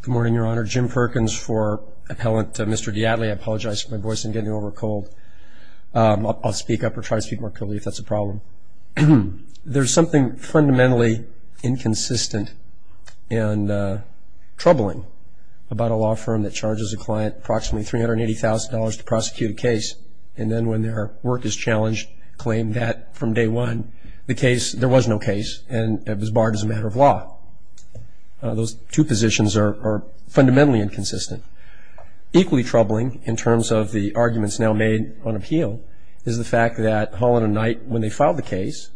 Good morning, Your Honor. Jim Perkins for appellant Mr. DeAtley. I apologize for my voice and getting over a cold. I'll speak up or try to speak more clearly if that's a problem. There's something fundamentally inconsistent and troubling about a law firm that charges a client approximately $380,000 to prosecute a case and then when their work is challenged, claim that from day one, the case, there was no case and it was barred as a matter of law. Those two positions are fundamentally inconsistent. Equally troubling in terms of the arguments now made on appeal is the fact that Holland & Knight, when they filed the case,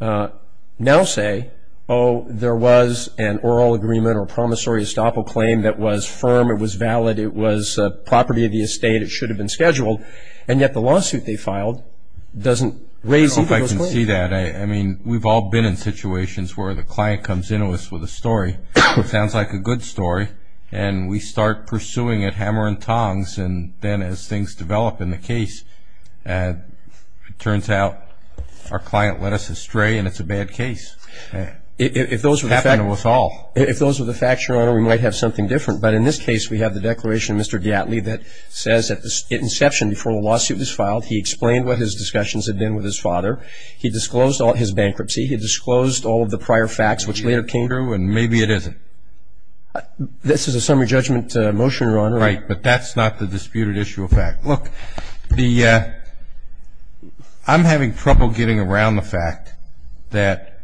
now say, oh, there was an oral agreement or promissory estoppel claim that was firm, it was valid, it was property of the estate, it should have been scheduled, and yet the lawsuit they filed doesn't raise either of those claims. I see that. I mean, we've all been in situations where the client comes in to us with a story that sounds like a good story and we start pursuing it hammer and tongs and then as things develop in the case, it turns out our client led us astray and it's a bad case. It happened to us all. If those were the facts, Your Honor, we might have something different. But in this case, we have the declaration of Mr. DeAtley that says at inception before the lawsuit was filed, he explained what his discussions had been with his father, he disclosed his bankruptcy, he disclosed all of the prior facts which later came through and maybe it isn't. This is a summary judgment motion, Your Honor. Right, but that's not the disputed issue of fact. Look, I'm having trouble getting around the fact that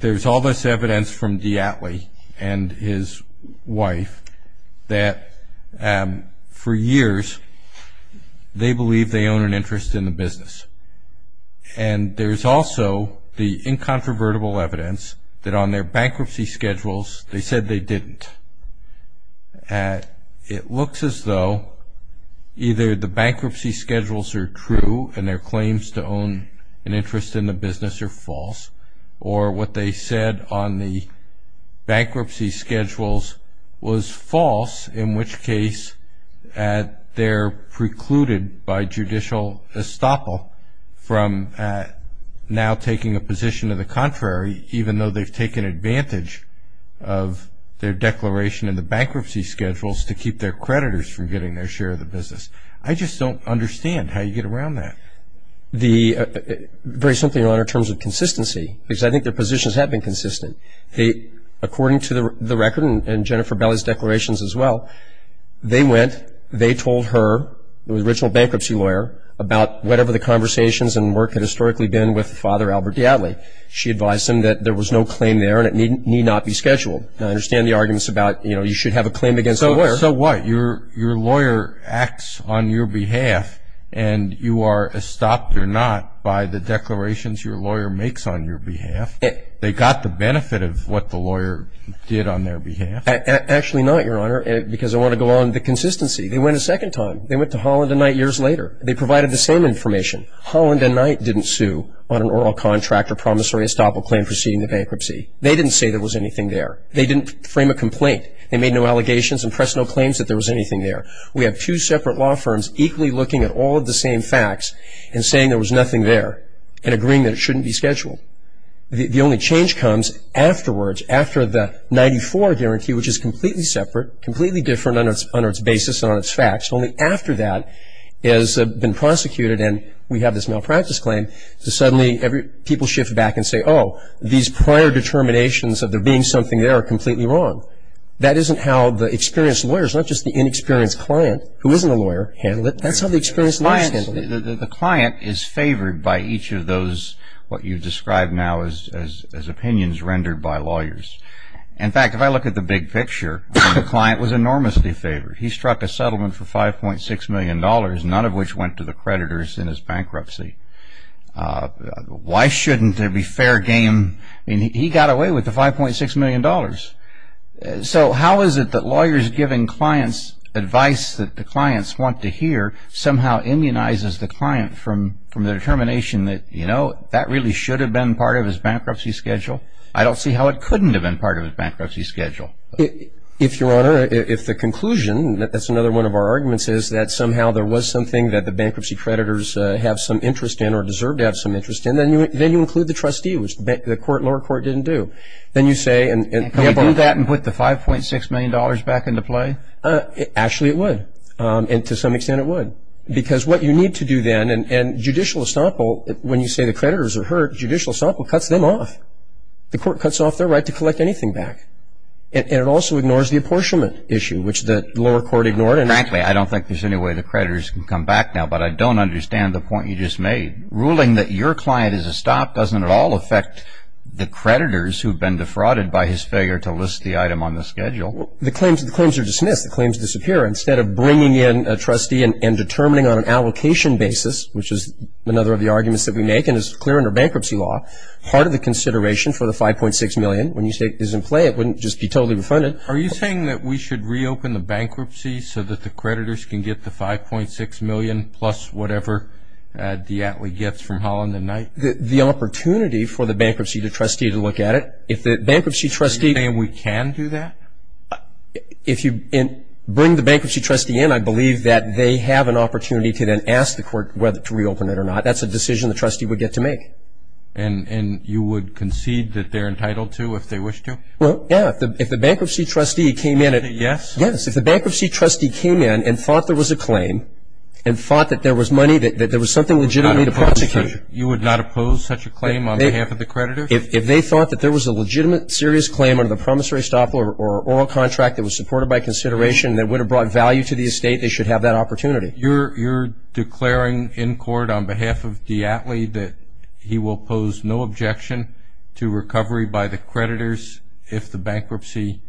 there's all this evidence from DeAtley and his wife that for years they believe they own an interest in the business. And there's also the incontrovertible evidence that on their bankruptcy schedules they said they didn't. It looks as though either the bankruptcy schedules are true and their claims to own an interest in the business are false or what they said on the bankruptcy schedules was false, in which case they're precluded by judicial estoppel from now taking a position of the contrary, even though they've taken advantage of their declaration in the bankruptcy schedules to keep their creditors from getting their share of the business. I just don't understand how you get around that. Very simply, Your Honor, in terms of consistency, because I think their positions have been consistent. According to the record and Jennifer Belli's declarations as well, they went, they told her, the original bankruptcy lawyer, about whatever the conversations and work had historically been with Father Albert DeAtley. She advised him that there was no claim there and it need not be scheduled. I understand the arguments about, you know, you should have a claim against the lawyer. So what? Your lawyer acts on your behalf and you are estopped or not by the declarations your lawyer makes on your behalf. They got the benefit of what the lawyer did on their behalf. Actually not, Your Honor, because I want to go on the consistency. They went a second time. They went to Holland and Knight years later. They provided the same information. Holland and Knight didn't sue on an oral contract or promissory estoppel claim preceding the bankruptcy. They didn't say there was anything there. They didn't frame a complaint. They made no allegations and pressed no claims that there was anything there. We have two separate law firms equally looking at all of the same facts and saying there was nothing there and agreeing that it shouldn't be scheduled. The only change comes afterwards, after the 94 guarantee, which is completely separate, completely different on its basis and on its facts. Only after that has been prosecuted and we have this malpractice claim, suddenly people shift back and say, oh, these prior determinations of there being something there are completely wrong. That isn't how the experienced lawyers, not just the inexperienced client who isn't a lawyer, handle it. That's how the experienced lawyers handle it. The client is favored by each of those what you describe now as opinions rendered by lawyers. In fact, if I look at the big picture, the client was enormously favored. He struck a settlement for $5.6 million, none of which went to the creditors in his bankruptcy. Why shouldn't there be fair game? He got away with the $5.6 million. So how is it that lawyers giving clients advice that the clients want to hear somehow immunizes the client from the determination that, you know, that really should have been part of his bankruptcy schedule? I don't see how it couldn't have been part of his bankruptcy schedule. If, Your Honor, if the conclusion, that's another one of our arguments, is that somehow there was something that the bankruptcy creditors have some interest in or deserve to have some interest in, then you include the trustee, which the lower court didn't do. Can we do that and put the $5.6 million back into play? Actually, it would, and to some extent it would. Because what you need to do then, and judicial estoppel, when you say the creditors are hurt, judicial estoppel cuts them off. The court cuts off their right to collect anything back. And it also ignores the apportionment issue, which the lower court ignored. Frankly, I don't think there's any way the creditors can come back now, but I don't understand the point you just made. Ruling that your client is a stop doesn't at all affect the creditors who have been defrauded by his failure to list the item on the schedule. The claims are dismissed. The claims disappear. Instead of bringing in a trustee and determining on an allocation basis, which is another of the arguments that we make and is clear under bankruptcy law, part of the consideration for the $5.6 million, when you say it's in play, it wouldn't just be totally refunded. Are you saying that we should reopen the bankruptcy so that the creditors can get the $5.6 million plus whatever the ATLE gets from Holland and Knight? The opportunity for the bankruptcy trustee to look at it. Are you saying we can do that? If you bring the bankruptcy trustee in, I believe that they have an opportunity to then ask the court whether to reopen it or not. That's a decision the trustee would get to make. And you would concede that they're entitled to if they wish to? Well, yeah. If the bankruptcy trustee came in and said yes, if the bankruptcy trustee came in and thought there was a claim and thought that there was money, that there was something legitimate to prosecute. You would not oppose such a claim on behalf of the creditors? If they thought that there was a legitimate, serious claim under the promissory staff or oral contract that was supported by consideration that would have brought value to the estate, they should have that opportunity. You're declaring in court on behalf of the ATLE that he will pose no objection to recovery by the creditors if the bankruptcy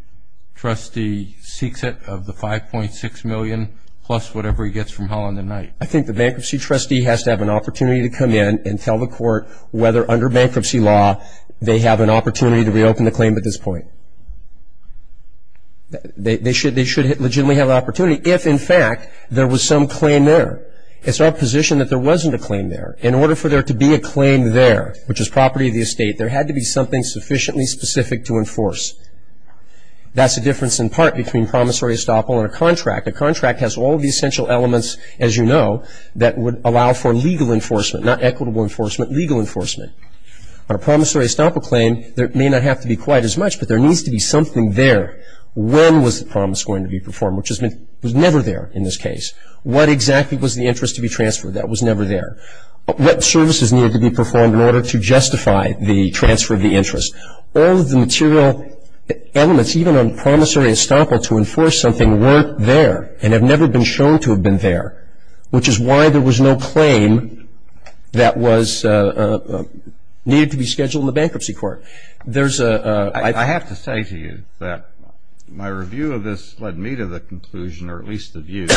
trustee seeks it of the $5.6 million plus whatever he gets from hell on the night? I think the bankruptcy trustee has to have an opportunity to come in and tell the court whether under bankruptcy law they have an opportunity to reopen the claim at this point. They should legitimately have the opportunity if, in fact, there was some claim there. It's our position that there wasn't a claim there. In order for there to be a claim there, which is property of the estate, there had to be something sufficiently specific to enforce. That's the difference in part between promissory estoppel and a contract. A contract has all the essential elements, as you know, that would allow for legal enforcement, not equitable enforcement, legal enforcement. On a promissory estoppel claim, there may not have to be quite as much, but there needs to be something there. When was the promise going to be performed, which was never there in this case? What exactly was the interest to be transferred that was never there? What services needed to be performed in order to justify the transfer of the interest? All of the material elements even on promissory estoppel to enforce something weren't there and have never been shown to have been there, which is why there was no claim that was needed to be scheduled in the bankruptcy court. There's a ---- I have to say to you that my review of this led me to the conclusion, or at least the view,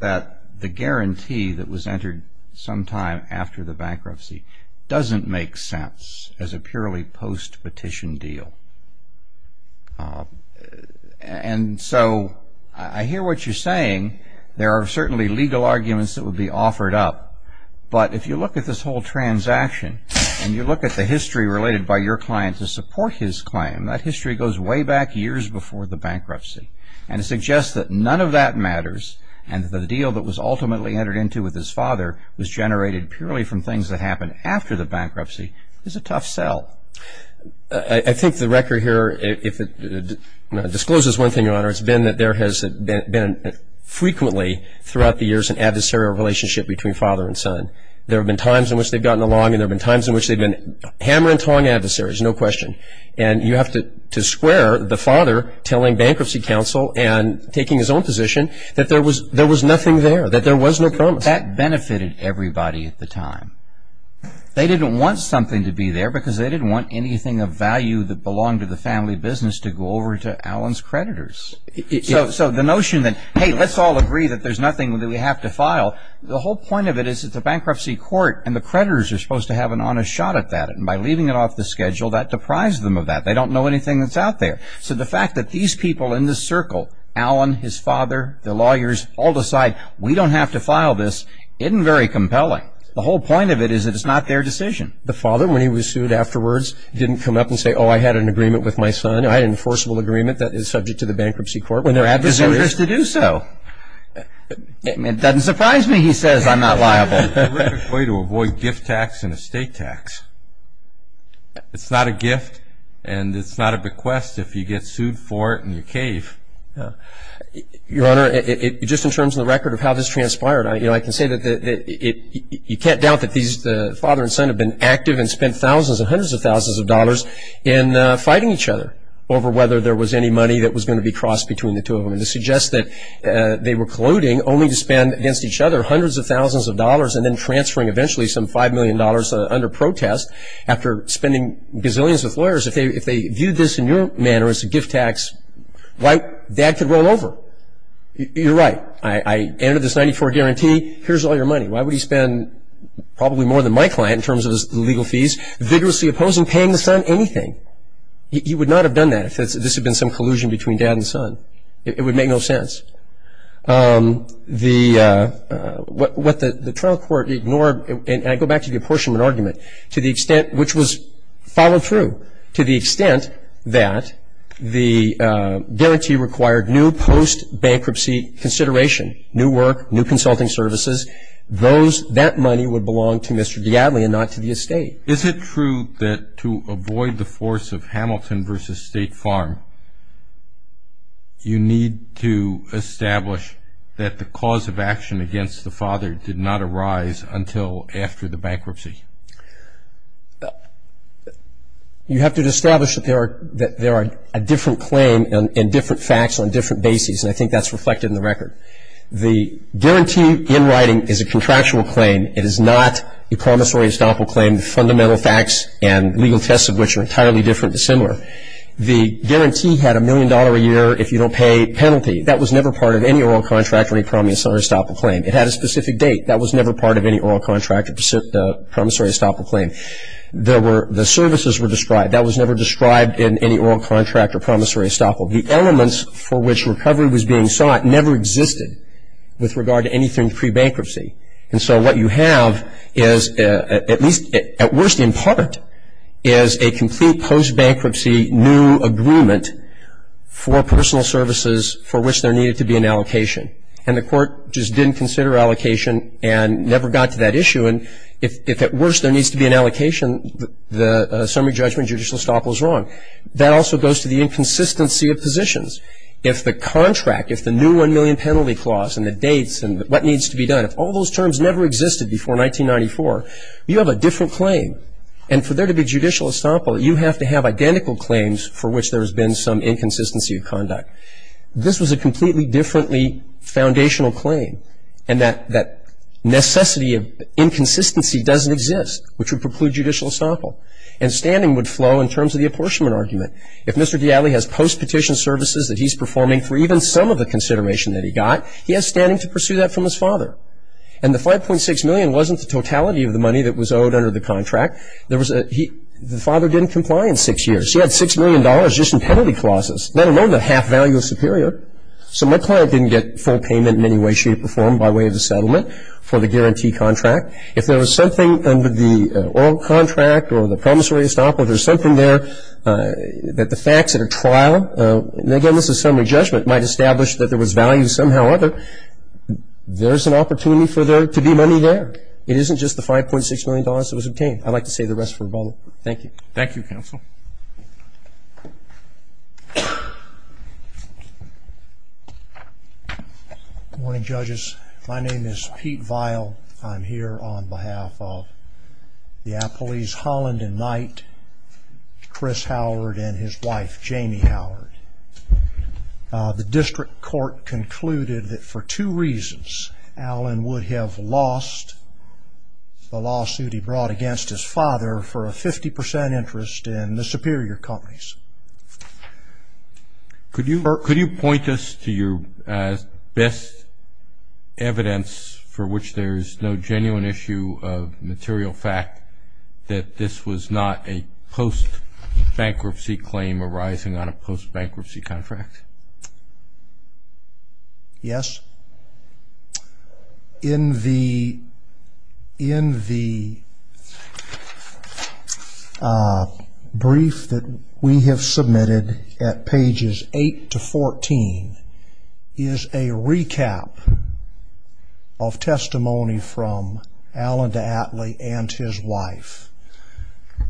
that the guarantee that was entered sometime after the bankruptcy doesn't make sense as a purely post-petition deal. And so I hear what you're saying. There are certainly legal arguments that would be offered up, but if you look at this whole transaction and you look at the history related by your client to support his claim, that history goes way back years before the bankruptcy and suggests that none of that matters and that the deal that was ultimately entered into with his father was generated purely from things that happened after the bankruptcy is a tough sell. I think the record here, if it discloses one thing, Your Honor, it's been that there has been frequently throughout the years an adversarial relationship between father and son. There have been times in which they've gotten along and there have been times in which they've been hammer and tong adversaries, no question. And you have to square the father telling bankruptcy counsel and taking his own position that there was nothing there, that there was no promise. That benefited everybody at the time. They didn't want something to be there because they didn't want anything of value that belonged to the family business to go over to Alan's creditors. So the notion that, hey, let's all agree that there's nothing that we have to file, the whole point of it is it's a bankruptcy court and the creditors are supposed to have an honest shot at that. And by leaving it off the schedule, that deprives them of that. They don't know anything that's out there. So the fact that these people in this circle, Alan, his father, the lawyers, all decide we don't have to file this isn't very compelling. The whole point of it is that it's not their decision. The father, when he was sued afterwards, didn't come up and say, oh, I had an agreement with my son. I had an enforceable agreement that is subject to the bankruptcy court. When they're adversaries to do so. It doesn't surprise me he says I'm not liable. It's a terrific way to avoid gift tax and estate tax. It's not a gift and it's not a bequest if you get sued for it in your cave. Your Honor, just in terms of the record of how this transpired, I can say that you can't doubt that the father and son have been active and spent thousands and hundreds of thousands of dollars in fighting each other over whether there was any money that was going to be crossed between the two of them. This suggests that they were colluding only to spend against each other hundreds of thousands of dollars and then transferring eventually some $5 million under protest after spending gazillions with lawyers. If they viewed this in your manner as a gift tax, dad could roll over. You're right. I entered this 94 guarantee. Here's all your money. Why would he spend probably more than my client in terms of his legal fees, vigorously opposing paying the son anything? He would not have done that if this had been some collusion between dad and son. It would make no sense. What the trial court ignored, and I go back to the apportionment argument, to the extent which was followed through, to the extent that the guarantee required new post-bankruptcy consideration, new work, new consulting services. That money would belong to Mr. Diadle and not to the estate. Is it true that to avoid the force of Hamilton v. State Farm, you need to establish that the cause of action against the father did not arise until after the bankruptcy? You have to establish that there are a different claim and different facts on different bases, and I think that's reflected in the record. The guarantee in writing is a contractual claim. It is not a promissory estoppel claim. The fundamental facts and legal tests of which are entirely different are similar. The guarantee had a million dollar a year if you don't pay penalty. That was never part of any oral contract or any promissory estoppel claim. It had a specific date. That was never part of any oral contract or promissory estoppel claim. The services were described. That was never described in any oral contract or promissory estoppel. The elements for which recovery was being sought never existed with regard to anything pre-bankruptcy, and so what you have is, at least at worst in part, is a complete post-bankruptcy new agreement for personal services for which there needed to be an allocation, and the court just didn't consider allocation and never got to that issue, and if at worst there needs to be an allocation, the summary judgment judicial estoppel is wrong. That also goes to the inconsistency of positions. If the contract, if the new one million penalty clause and the dates and what needs to be done, if all those terms never existed before 1994, you have a different claim, and for there to be judicial estoppel, you have to have identical claims for which there has been some inconsistency of conduct. This was a completely differently foundational claim, and that necessity of inconsistency doesn't exist, which would preclude judicial estoppel, and standing would flow in terms of the apportionment argument. If Mr. D'Ali has post-petition services that he's performing for even some of the consideration that he got, he has standing to pursue that from his father, and the 5.6 million wasn't the totality of the money that was owed under the contract. The father didn't comply in six years. He had $6 million just in penalty clauses, let alone the half value of superior, so my client didn't get full payment in any way, shape, or form by way of the settlement for the guarantee contract. If there was something under the oral contract or the promissory estoppel, if there's something there that the facts at a trial, and again, this is summary judgment, might establish that there was value somehow or other, there's an opportunity for there to be money there. It isn't just the $5.6 million that was obtained. I'd like to save the rest for rebuttal. Thank you. Thank you, counsel. Good morning, judges. My name is Pete Vial. I'm here on behalf of the appellees Holland and Knight, Chris Howard, and his wife, Jamie Howard. The district court concluded that for two reasons, Alan would have lost the lawsuit he brought against his father for a 50% interest in the superior companies. Could you point us to your best evidence for which there's no genuine issue of material fact that this was not a post-bankruptcy claim arising on a post-bankruptcy contract? Yes. In the brief that we have submitted at pages 8 to 14, is a recap of testimony from Alan D'Atley and his wife,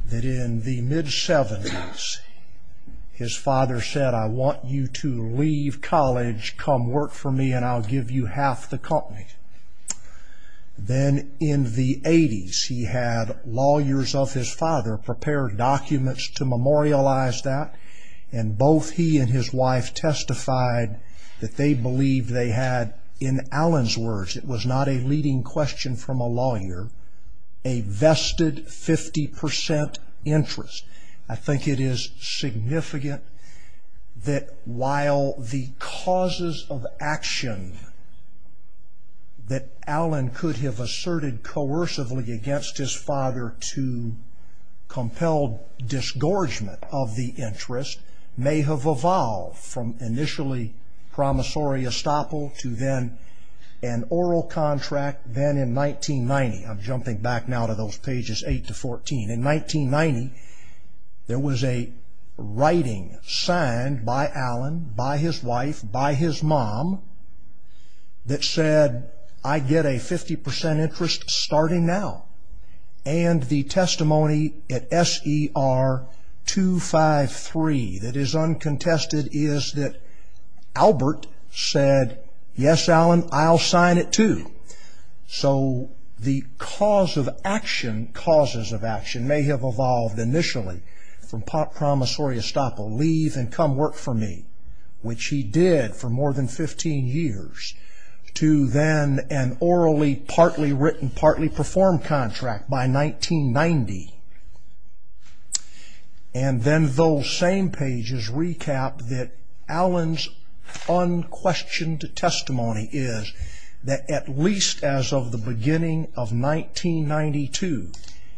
that in the mid-70s, his father said, I want you to leave college, come work for me, and I'll give you half the company. Then in the 80s, he had lawyers of his father prepare documents to memorialize that, and both he and his wife testified that they believed they had, in Alan's words, it was not a leading question from a lawyer, a vested 50% interest. I think it is significant that while the causes of action that Alan could have asserted coercively against his father to compel disgorgement of the interest may have evolved from initially promissory estoppel to then an oral contract, then in 1990, I'm jumping back now to those pages 8 to 14, in 1990, there was a writing signed by Alan, by his wife, by his mom, that said, I get a 50% interest starting now. And the testimony at SER 253 that is uncontested is that Albert said, Yes, Alan, I'll sign it too. So the causes of action may have evolved initially from promissory estoppel, leave and come work for me, which he did for more than 15 years, to then an orally partly written, partly performed contract by 1990. And then those same pages recap that Alan's unquestioned testimony is that at least as of the beginning of 1992,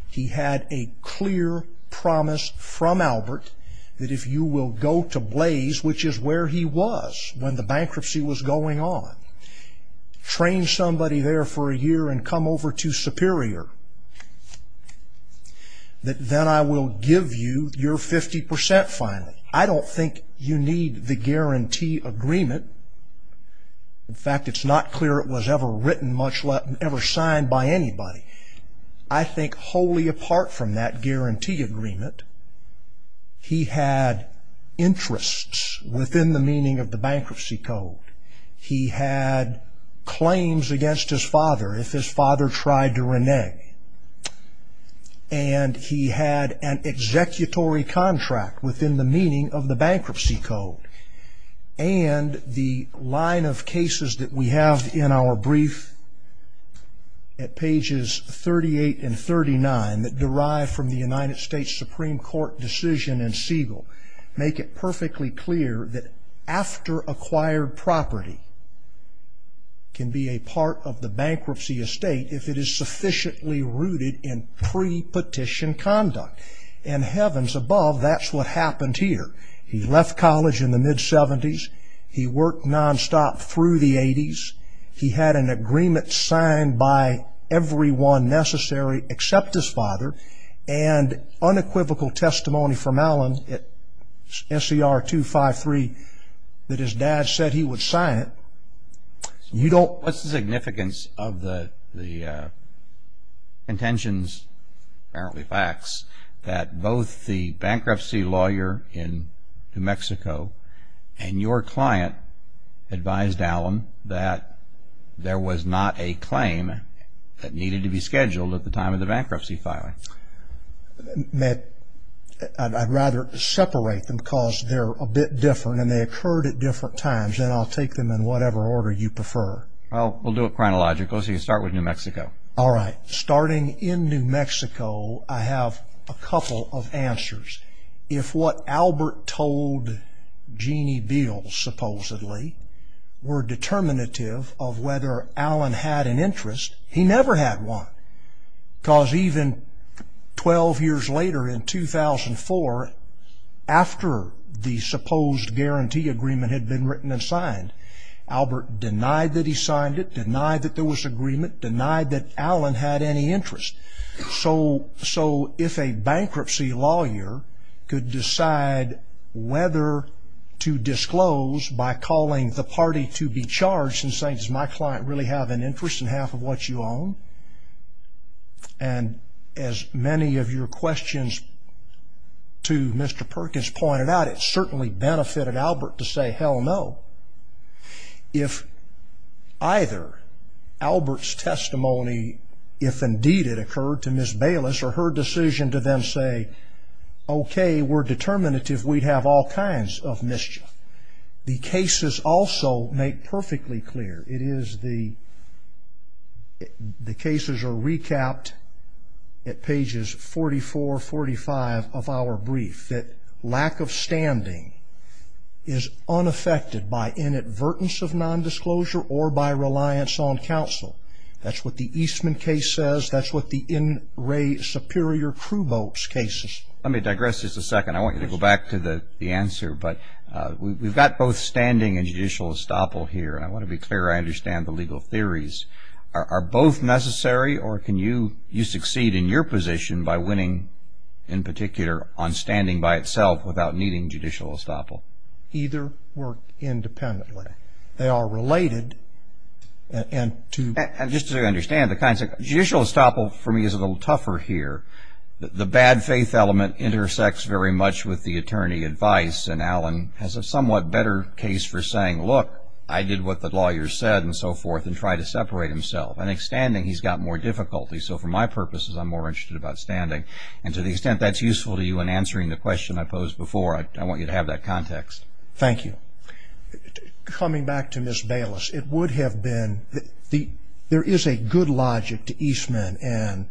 he had a clear promise from Albert that if you will go to Blaze, which is where he was when the bankruptcy was going on, train somebody there for a year and come over to Superior, that then I will give you your 50% finally. I don't think you need the guarantee agreement. In fact, it's not clear it was ever written, much less ever signed by anybody. I think wholly apart from that guarantee agreement, he had interests within the meaning of the bankruptcy code. He had claims against his father if his father tried to renege. And he had an executory contract within the meaning of the bankruptcy code. And the line of cases that we have in our brief at pages 38 and 39 that derive from the United States Supreme Court decision in Siegel make it perfectly clear that after acquired property can be a part of the bankruptcy estate if it is sufficiently rooted in pre-petition conduct. And heavens above, that's what happened here. He left college in the mid-'70s. He worked nonstop through the-'80s. He had an agreement signed by everyone necessary except his father and unequivocal testimony from Allen at SCR 253 that his dad said he would sign it. What's the significance of the contentions, apparently facts, that both the bankruptcy lawyer in New Mexico and your client advised Allen that there was not a claim that needed to be scheduled at the time of the bankruptcy filing? Matt, I'd rather separate them because they're a bit different and they occurred at different times, and I'll take them in whatever order you prefer. Well, we'll do it chronological, so you can start with New Mexico. All right. Starting in New Mexico, I have a couple of answers. If what Albert told Jeanne Beals, supposedly, were determinative of whether Allen had an interest, he never had one because even 12 years later in 2004, after the supposed guarantee agreement had been written and signed, Albert denied that he signed it, denied that there was agreement, denied that Allen had any interest. So if a bankruptcy lawyer could decide whether to disclose by calling the party to be charged and saying, does my client really have an interest in half of what you own? And as many of your questions to Mr. Perkins pointed out, it certainly benefited Albert to say, hell no. If either Albert's testimony, if indeed it occurred to Ms. Bayless or her decision to then say, okay, we're determinative, we'd have all kinds of mischief. The cases also make perfectly clear, it is the cases are recapped at pages 44, 45 of our brief, that lack of standing is unaffected by inadvertence of nondisclosure or by reliance on counsel. That's what the Eastman case says. That's what the In Re Superior Crew Boats case says. Let me digress just a second. I want you to go back to the answer, but we've got both standing and judicial estoppel here, and I want to be clear I understand the legal theories. Are both necessary, or can you succeed in your position by winning, in particular, on standing by itself without needing judicial estoppel? Either work independently. They are related. And just so you understand, judicial estoppel for me is a little tougher here. The bad faith element intersects very much with the attorney advice, and Alan has a somewhat better case for saying, look, I did what the lawyer said, and so forth, and try to separate himself. I think standing, he's got more difficulty. So for my purposes, I'm more interested about standing. And to the extent that's useful to you in answering the question I posed before, I want you to have that context. Thank you. Coming back to Ms. Bayless, it would have been, there is a good logic to Eastman and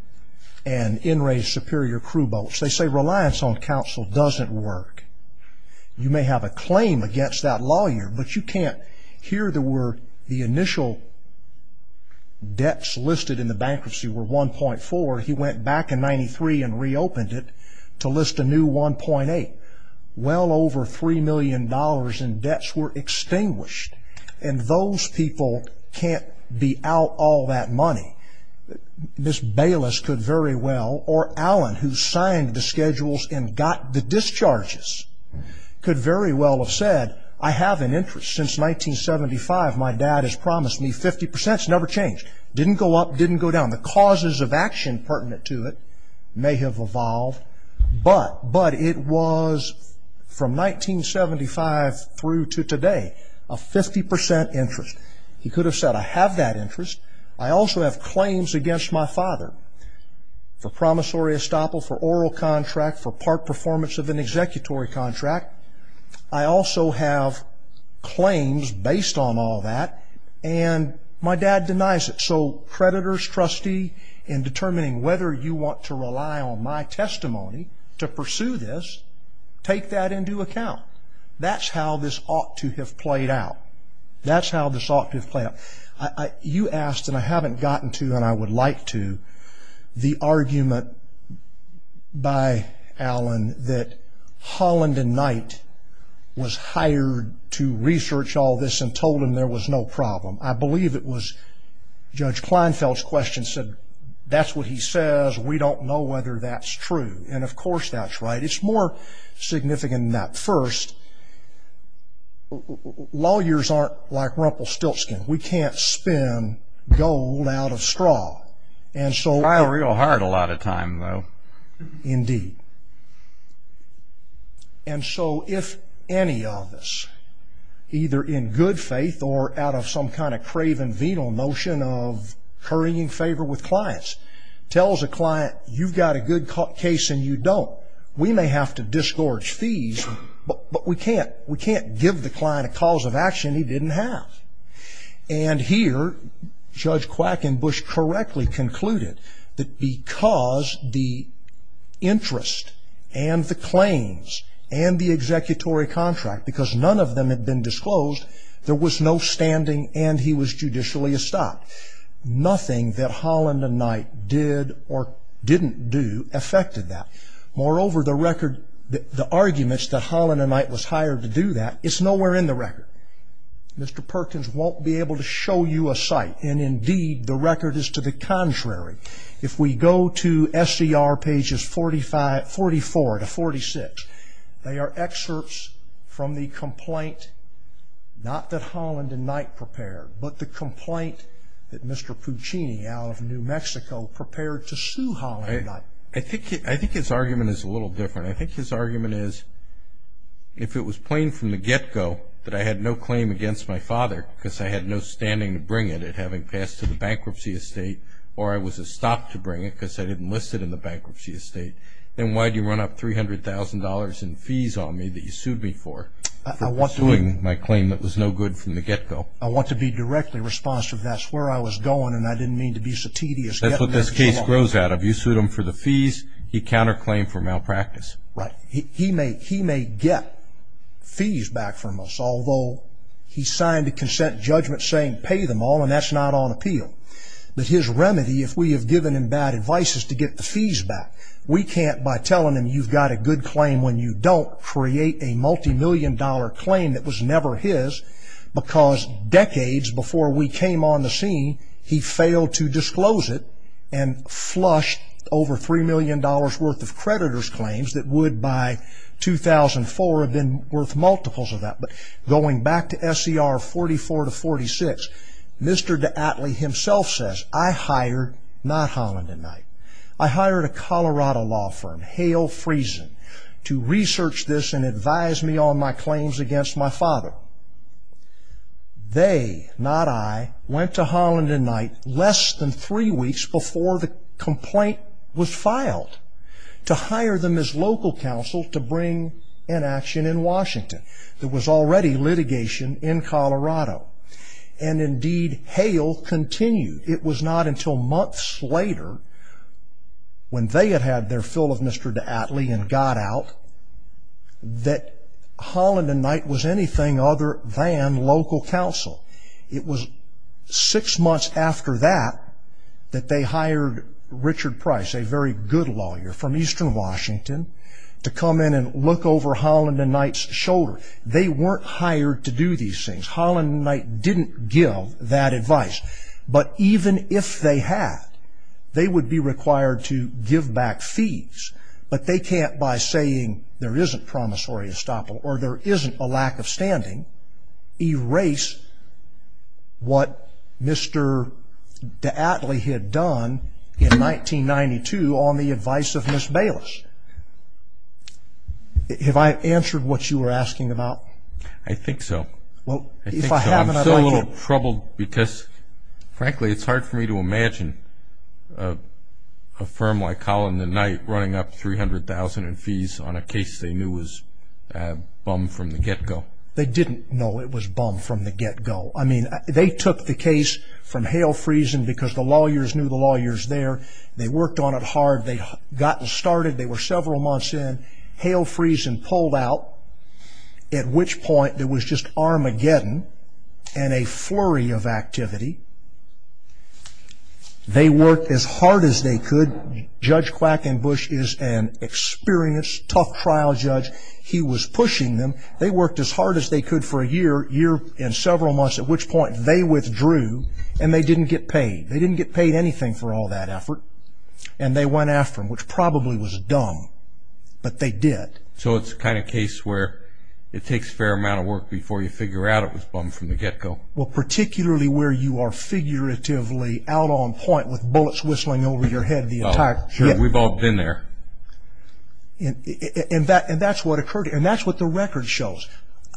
NRA's superior crew boats. They say reliance on counsel doesn't work. You may have a claim against that lawyer, but you can't. Here there were the initial debts listed in the bankruptcy were 1.4. He went back in 93 and reopened it to list a new 1.8. Well over $3 million in debts were extinguished, and those people can't be out all that money. Ms. Bayless could very well, or Alan, who signed the schedules and got the discharges could very well have said, I have an interest. Since 1975, my dad has promised me 50 percent. It's never changed. It didn't go up. It didn't go down. The causes of action pertinent to it may have evolved, but it was from 1975 through to today a 50 percent interest. He could have said, I have that interest. I also have claims against my father for promissory estoppel, for oral contract, for part performance of an executory contract. I also have claims based on all that, and my dad denies it. So creditors, trustee, in determining whether you want to rely on my testimony to pursue this, take that into account. That's how this ought to have played out. That's how this ought to have played out. You asked, and I haven't gotten to and I would like to, the argument by Alan that Holland and Knight was hired to research all this and told him there was no problem. I believe it was Judge Kleinfeld's question said, that's what he says. We don't know whether that's true. And, of course, that's right. It's more significant than that. And, of course, lawyers aren't like Rumpelstiltskin. We can't spin gold out of straw. We try real hard a lot of times, though. Indeed. And so if any of us, either in good faith or out of some kind of craven venal notion of currying favor with clients, tells a client, you've got a good case and you don't, we may have to disgorge fees, but we can't give the client a cause of action he didn't have. And here, Judge Quackenbush correctly concluded that because the interest and the claims and the executory contract, because none of them had been disclosed, there was no standing and he was judicially estopped. Nothing that Holland and Knight did or didn't do affected that. Moreover, the record, the arguments that Holland and Knight was hired to do that, it's nowhere in the record. Mr. Perkins won't be able to show you a site. And, indeed, the record is to the contrary. If we go to SCR pages 44 to 46, they are excerpts from the complaint not that Holland and Knight prepared, but the complaint that Mr. Puccini out of New Mexico prepared to sue Holland and Knight. I think his argument is a little different. I think his argument is if it was plain from the get-go that I had no claim against my father because I had no standing to bring it, it having passed to the bankruptcy estate, or I was estopped to bring it because I didn't list it in the bankruptcy estate, then why do you run up $300,000 in fees on me that you sued me for, for suing my claim that was no good from the get-go? I want to be directly responsive. That's where I was going and I didn't mean to be so tedious. That's what this case grows out of. You sued him for the fees. He counterclaimed for malpractice. Right. He may get fees back from us, although he signed a consent judgment saying pay them all, and that's not on appeal. But his remedy, if we have given him bad advice, is to get the fees back. We can't, by telling him you've got a good claim when you don't, create a multimillion-dollar claim that was never his because decades before we came on the scene, he failed to disclose it and flushed over $3 million worth of creditors' claims that would, by 2004, have been worth multiples of that. But going back to SCR 44-46, Mr. D'Atley himself says, I hired, not Holland & Knight, I hired a Colorado law firm, Hale Friesen, to research this and advise me on my claims against my father. They, not I, went to Holland & Knight less than three weeks before the complaint was filed to hire them as local counsel to bring an action in Washington. There was already litigation in Colorado. And, indeed, Hale continued. It was not until months later, when they had had their fill of Mr. D'Atley and got out, that Holland & Knight was anything other than local counsel. It was six months after that that they hired Richard Price, a very good lawyer from eastern Washington, to come in and look over Holland & Knight's shoulder. They weren't hired to do these things. Holland & Knight didn't give that advice. But even if they had, they would be required to give back fees. But they can't, by saying there isn't promissory estoppel or there isn't a lack of standing, erase what Mr. D'Atley had done in 1992 on the advice of Ms. Bayless. Have I answered what you were asking about? I think so. I'm still a little troubled because, frankly, it's hard for me to imagine a firm like Holland & Knight running up $300,000 in fees on a case they knew was bummed from the get-go. They didn't know it was bummed from the get-go. I mean, they took the case from Hale Friesen because the lawyers knew the lawyers there. They worked on it hard. They'd gotten started. They were several months in. Hale Friesen pulled out, at which point there was just Armageddon and a flurry of activity. They worked as hard as they could. Judge Quackenbush is an experienced, tough trial judge. He was pushing them. They worked as hard as they could for a year and several months, at which point they withdrew, and they didn't get paid. They didn't get paid anything for all that effort, and they went after him, which probably was dumb, but they did. So it's the kind of case where it takes a fair amount of work before you figure out it was bummed from the get-go. Well, particularly where you are figuratively out on point with bullets whistling over your head the entire time. Oh, sure. We've all been there. And that's what occurred, and that's what the record shows.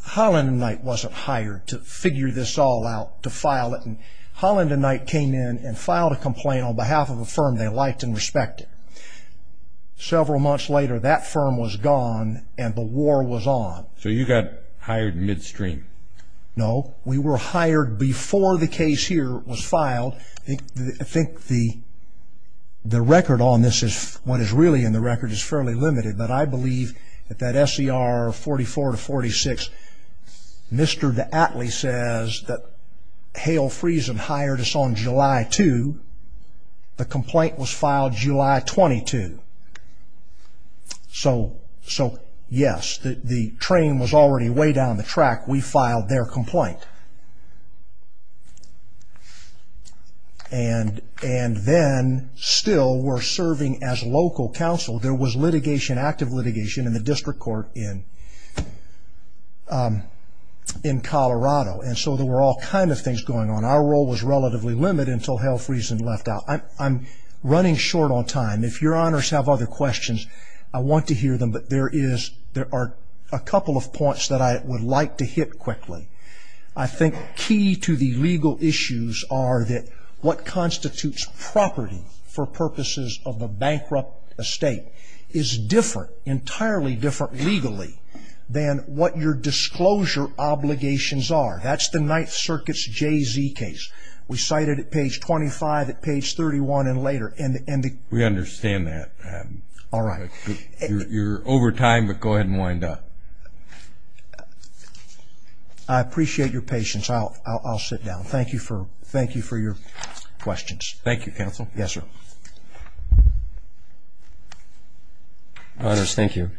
Holland & Knight wasn't hired to figure this all out, to file it. Holland & Knight came in and filed a complaint on behalf of a firm they liked and respected. Several months later, that firm was gone, and the war was on. So you got hired midstream? No. We were hired before the case here was filed. I think the record on this, what is really in the record, is fairly limited, but I believe that that S.E.R. 44 to 46, Mr. D'Atley says that Hale Friesen hired us on July 2. The complaint was filed July 22. So, yes, the train was already way down the track. We filed their complaint. And then, still, we're serving as local counsel. There was litigation, active litigation, in the district court in Colorado, and so there were all kinds of things going on. Our role was relatively limited until Hale Friesen left out. I'm running short on time. If your honors have other questions, I want to hear them, but there are a couple of points that I would like to hit quickly. I think key to the legal issues are that what constitutes property for purposes of a bankrupt estate is different, entirely different legally, than what your disclosure obligations are. That's the Ninth Circuit's J.Z. case. We cite it at page 25, at page 31, and later. We understand that. All right. You're over time, but go ahead and wind up. I appreciate your patience. I'll sit down. Thank you for your questions. Thank you, counsel. Yes, sir. Honors, thank you.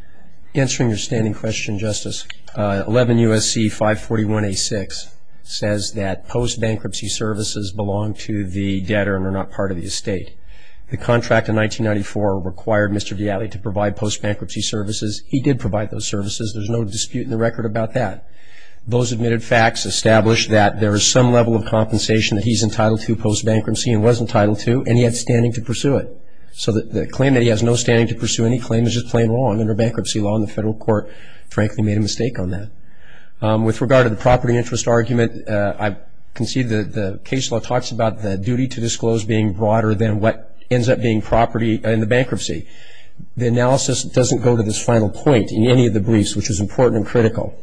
Answering your standing question, Justice, 11 U.S.C. 541-A-6 says that post-bankruptcy services belong to the debtor and are not part of the estate. The contract in 1994 required Mr. Dialli to provide post-bankruptcy services. He did provide those services. There's no dispute in the record about that. Those admitted facts establish that there is some level of compensation that he's entitled to post-bankruptcy and was entitled to, and he had standing to pursue it. So the claim that he has no standing to pursue any claim is just plain wrong under bankruptcy law, and the federal court, frankly, made a mistake on that. With regard to the property interest argument, I concede that the case law talks about the duty to disclose being broader than what ends up being property in the bankruptcy. The analysis doesn't go to this final point in any of the briefs, which is important and critical.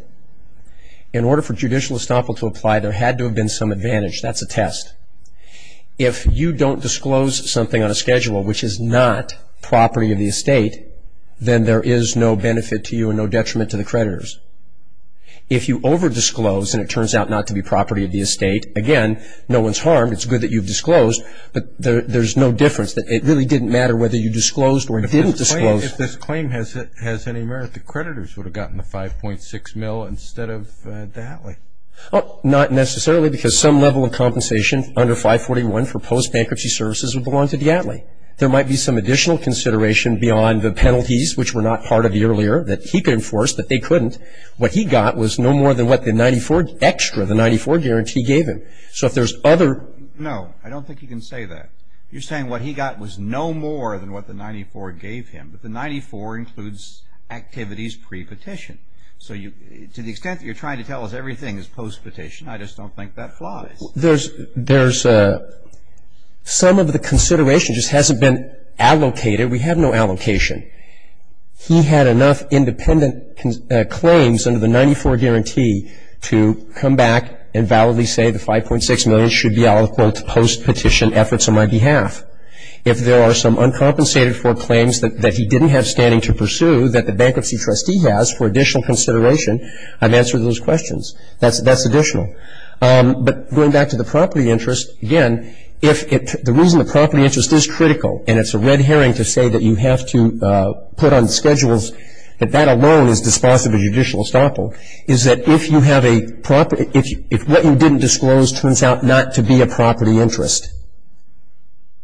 In order for judicial estoppel to apply, there had to have been some advantage. That's a test. If you don't disclose something on a schedule which is not property of the estate, then there is no benefit to you and no detriment to the creditors. If you over-disclose and it turns out not to be property of the estate, again, no one's harmed. It's good that you've disclosed, but there's no difference. It really didn't matter whether you disclosed or didn't disclose. If this claim has any merit, the creditors would have gotten the 5.6 mil instead of Dialli. Not necessarily because some level of compensation under 541 for post-bankruptcy services would belong to Dialli. There might be some additional consideration beyond the penalties, which were not part of the earlier, that he could enforce, that they couldn't. What he got was no more than what the 94, extra, the 94 guarantee gave him. So if there's other... No, I don't think you can say that. You're saying what he got was no more than what the 94 gave him, but the 94 includes activities pre-petition. So to the extent that you're trying to tell us everything is post-petition, I just don't think that flies. There's some of the consideration just hasn't been allocated. We have no allocation. He had enough independent claims under the 94 guarantee to come back and validly say the 5.6 million should be all, quote, post-petition efforts on my behalf. If there are some uncompensated for claims that he didn't have standing to pursue that the bankruptcy trustee has for additional consideration, I've answered those questions. That's additional. But going back to the property interest, again, the reason the property interest is critical, and it's a red herring to say that you have to put on schedules, that that alone is dispositive of judicial estoppel, is that if what you didn't disclose turns out not to be a property interest,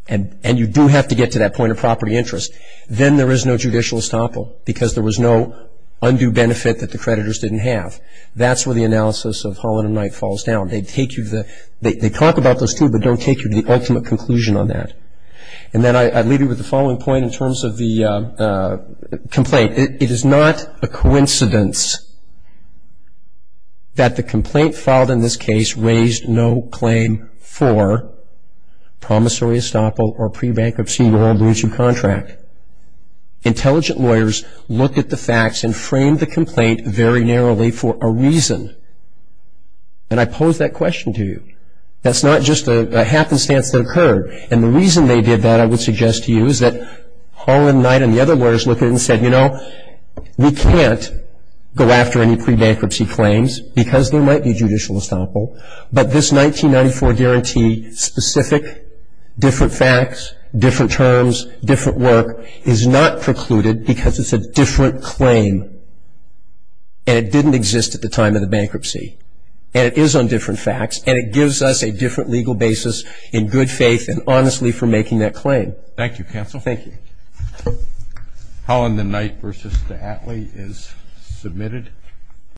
and you do have to get to that point of property interest, then there is no judicial estoppel because there was no undue benefit that the creditors didn't have. That's where the analysis of Holland and Knight falls down. They talk about those two but don't take you to the ultimate conclusion on that. And then I'd leave you with the following point in terms of the complaint. It is not a coincidence that the complaint filed in this case raised no claim for promissory estoppel or pre-bankruptcy in your own blue chip contract. Intelligent lawyers looked at the facts and framed the complaint very narrowly for a reason. And I pose that question to you. That's not just a happenstance that occurred. And the reason they did that, I would suggest to you, is that Holland and Knight and the other lawyers looked at it and said, you know, we can't go after any pre-bankruptcy claims because there might be judicial estoppel, but this 1994 guarantee specific, different facts, different terms, different work is not precluded because it's a different claim and it didn't exist at the time of the bankruptcy. And it is on different facts and it gives us a different legal basis in good faith and honestly for making that claim. Thank you, counsel. Thank you. Holland and Knight v. Attlee is submitted.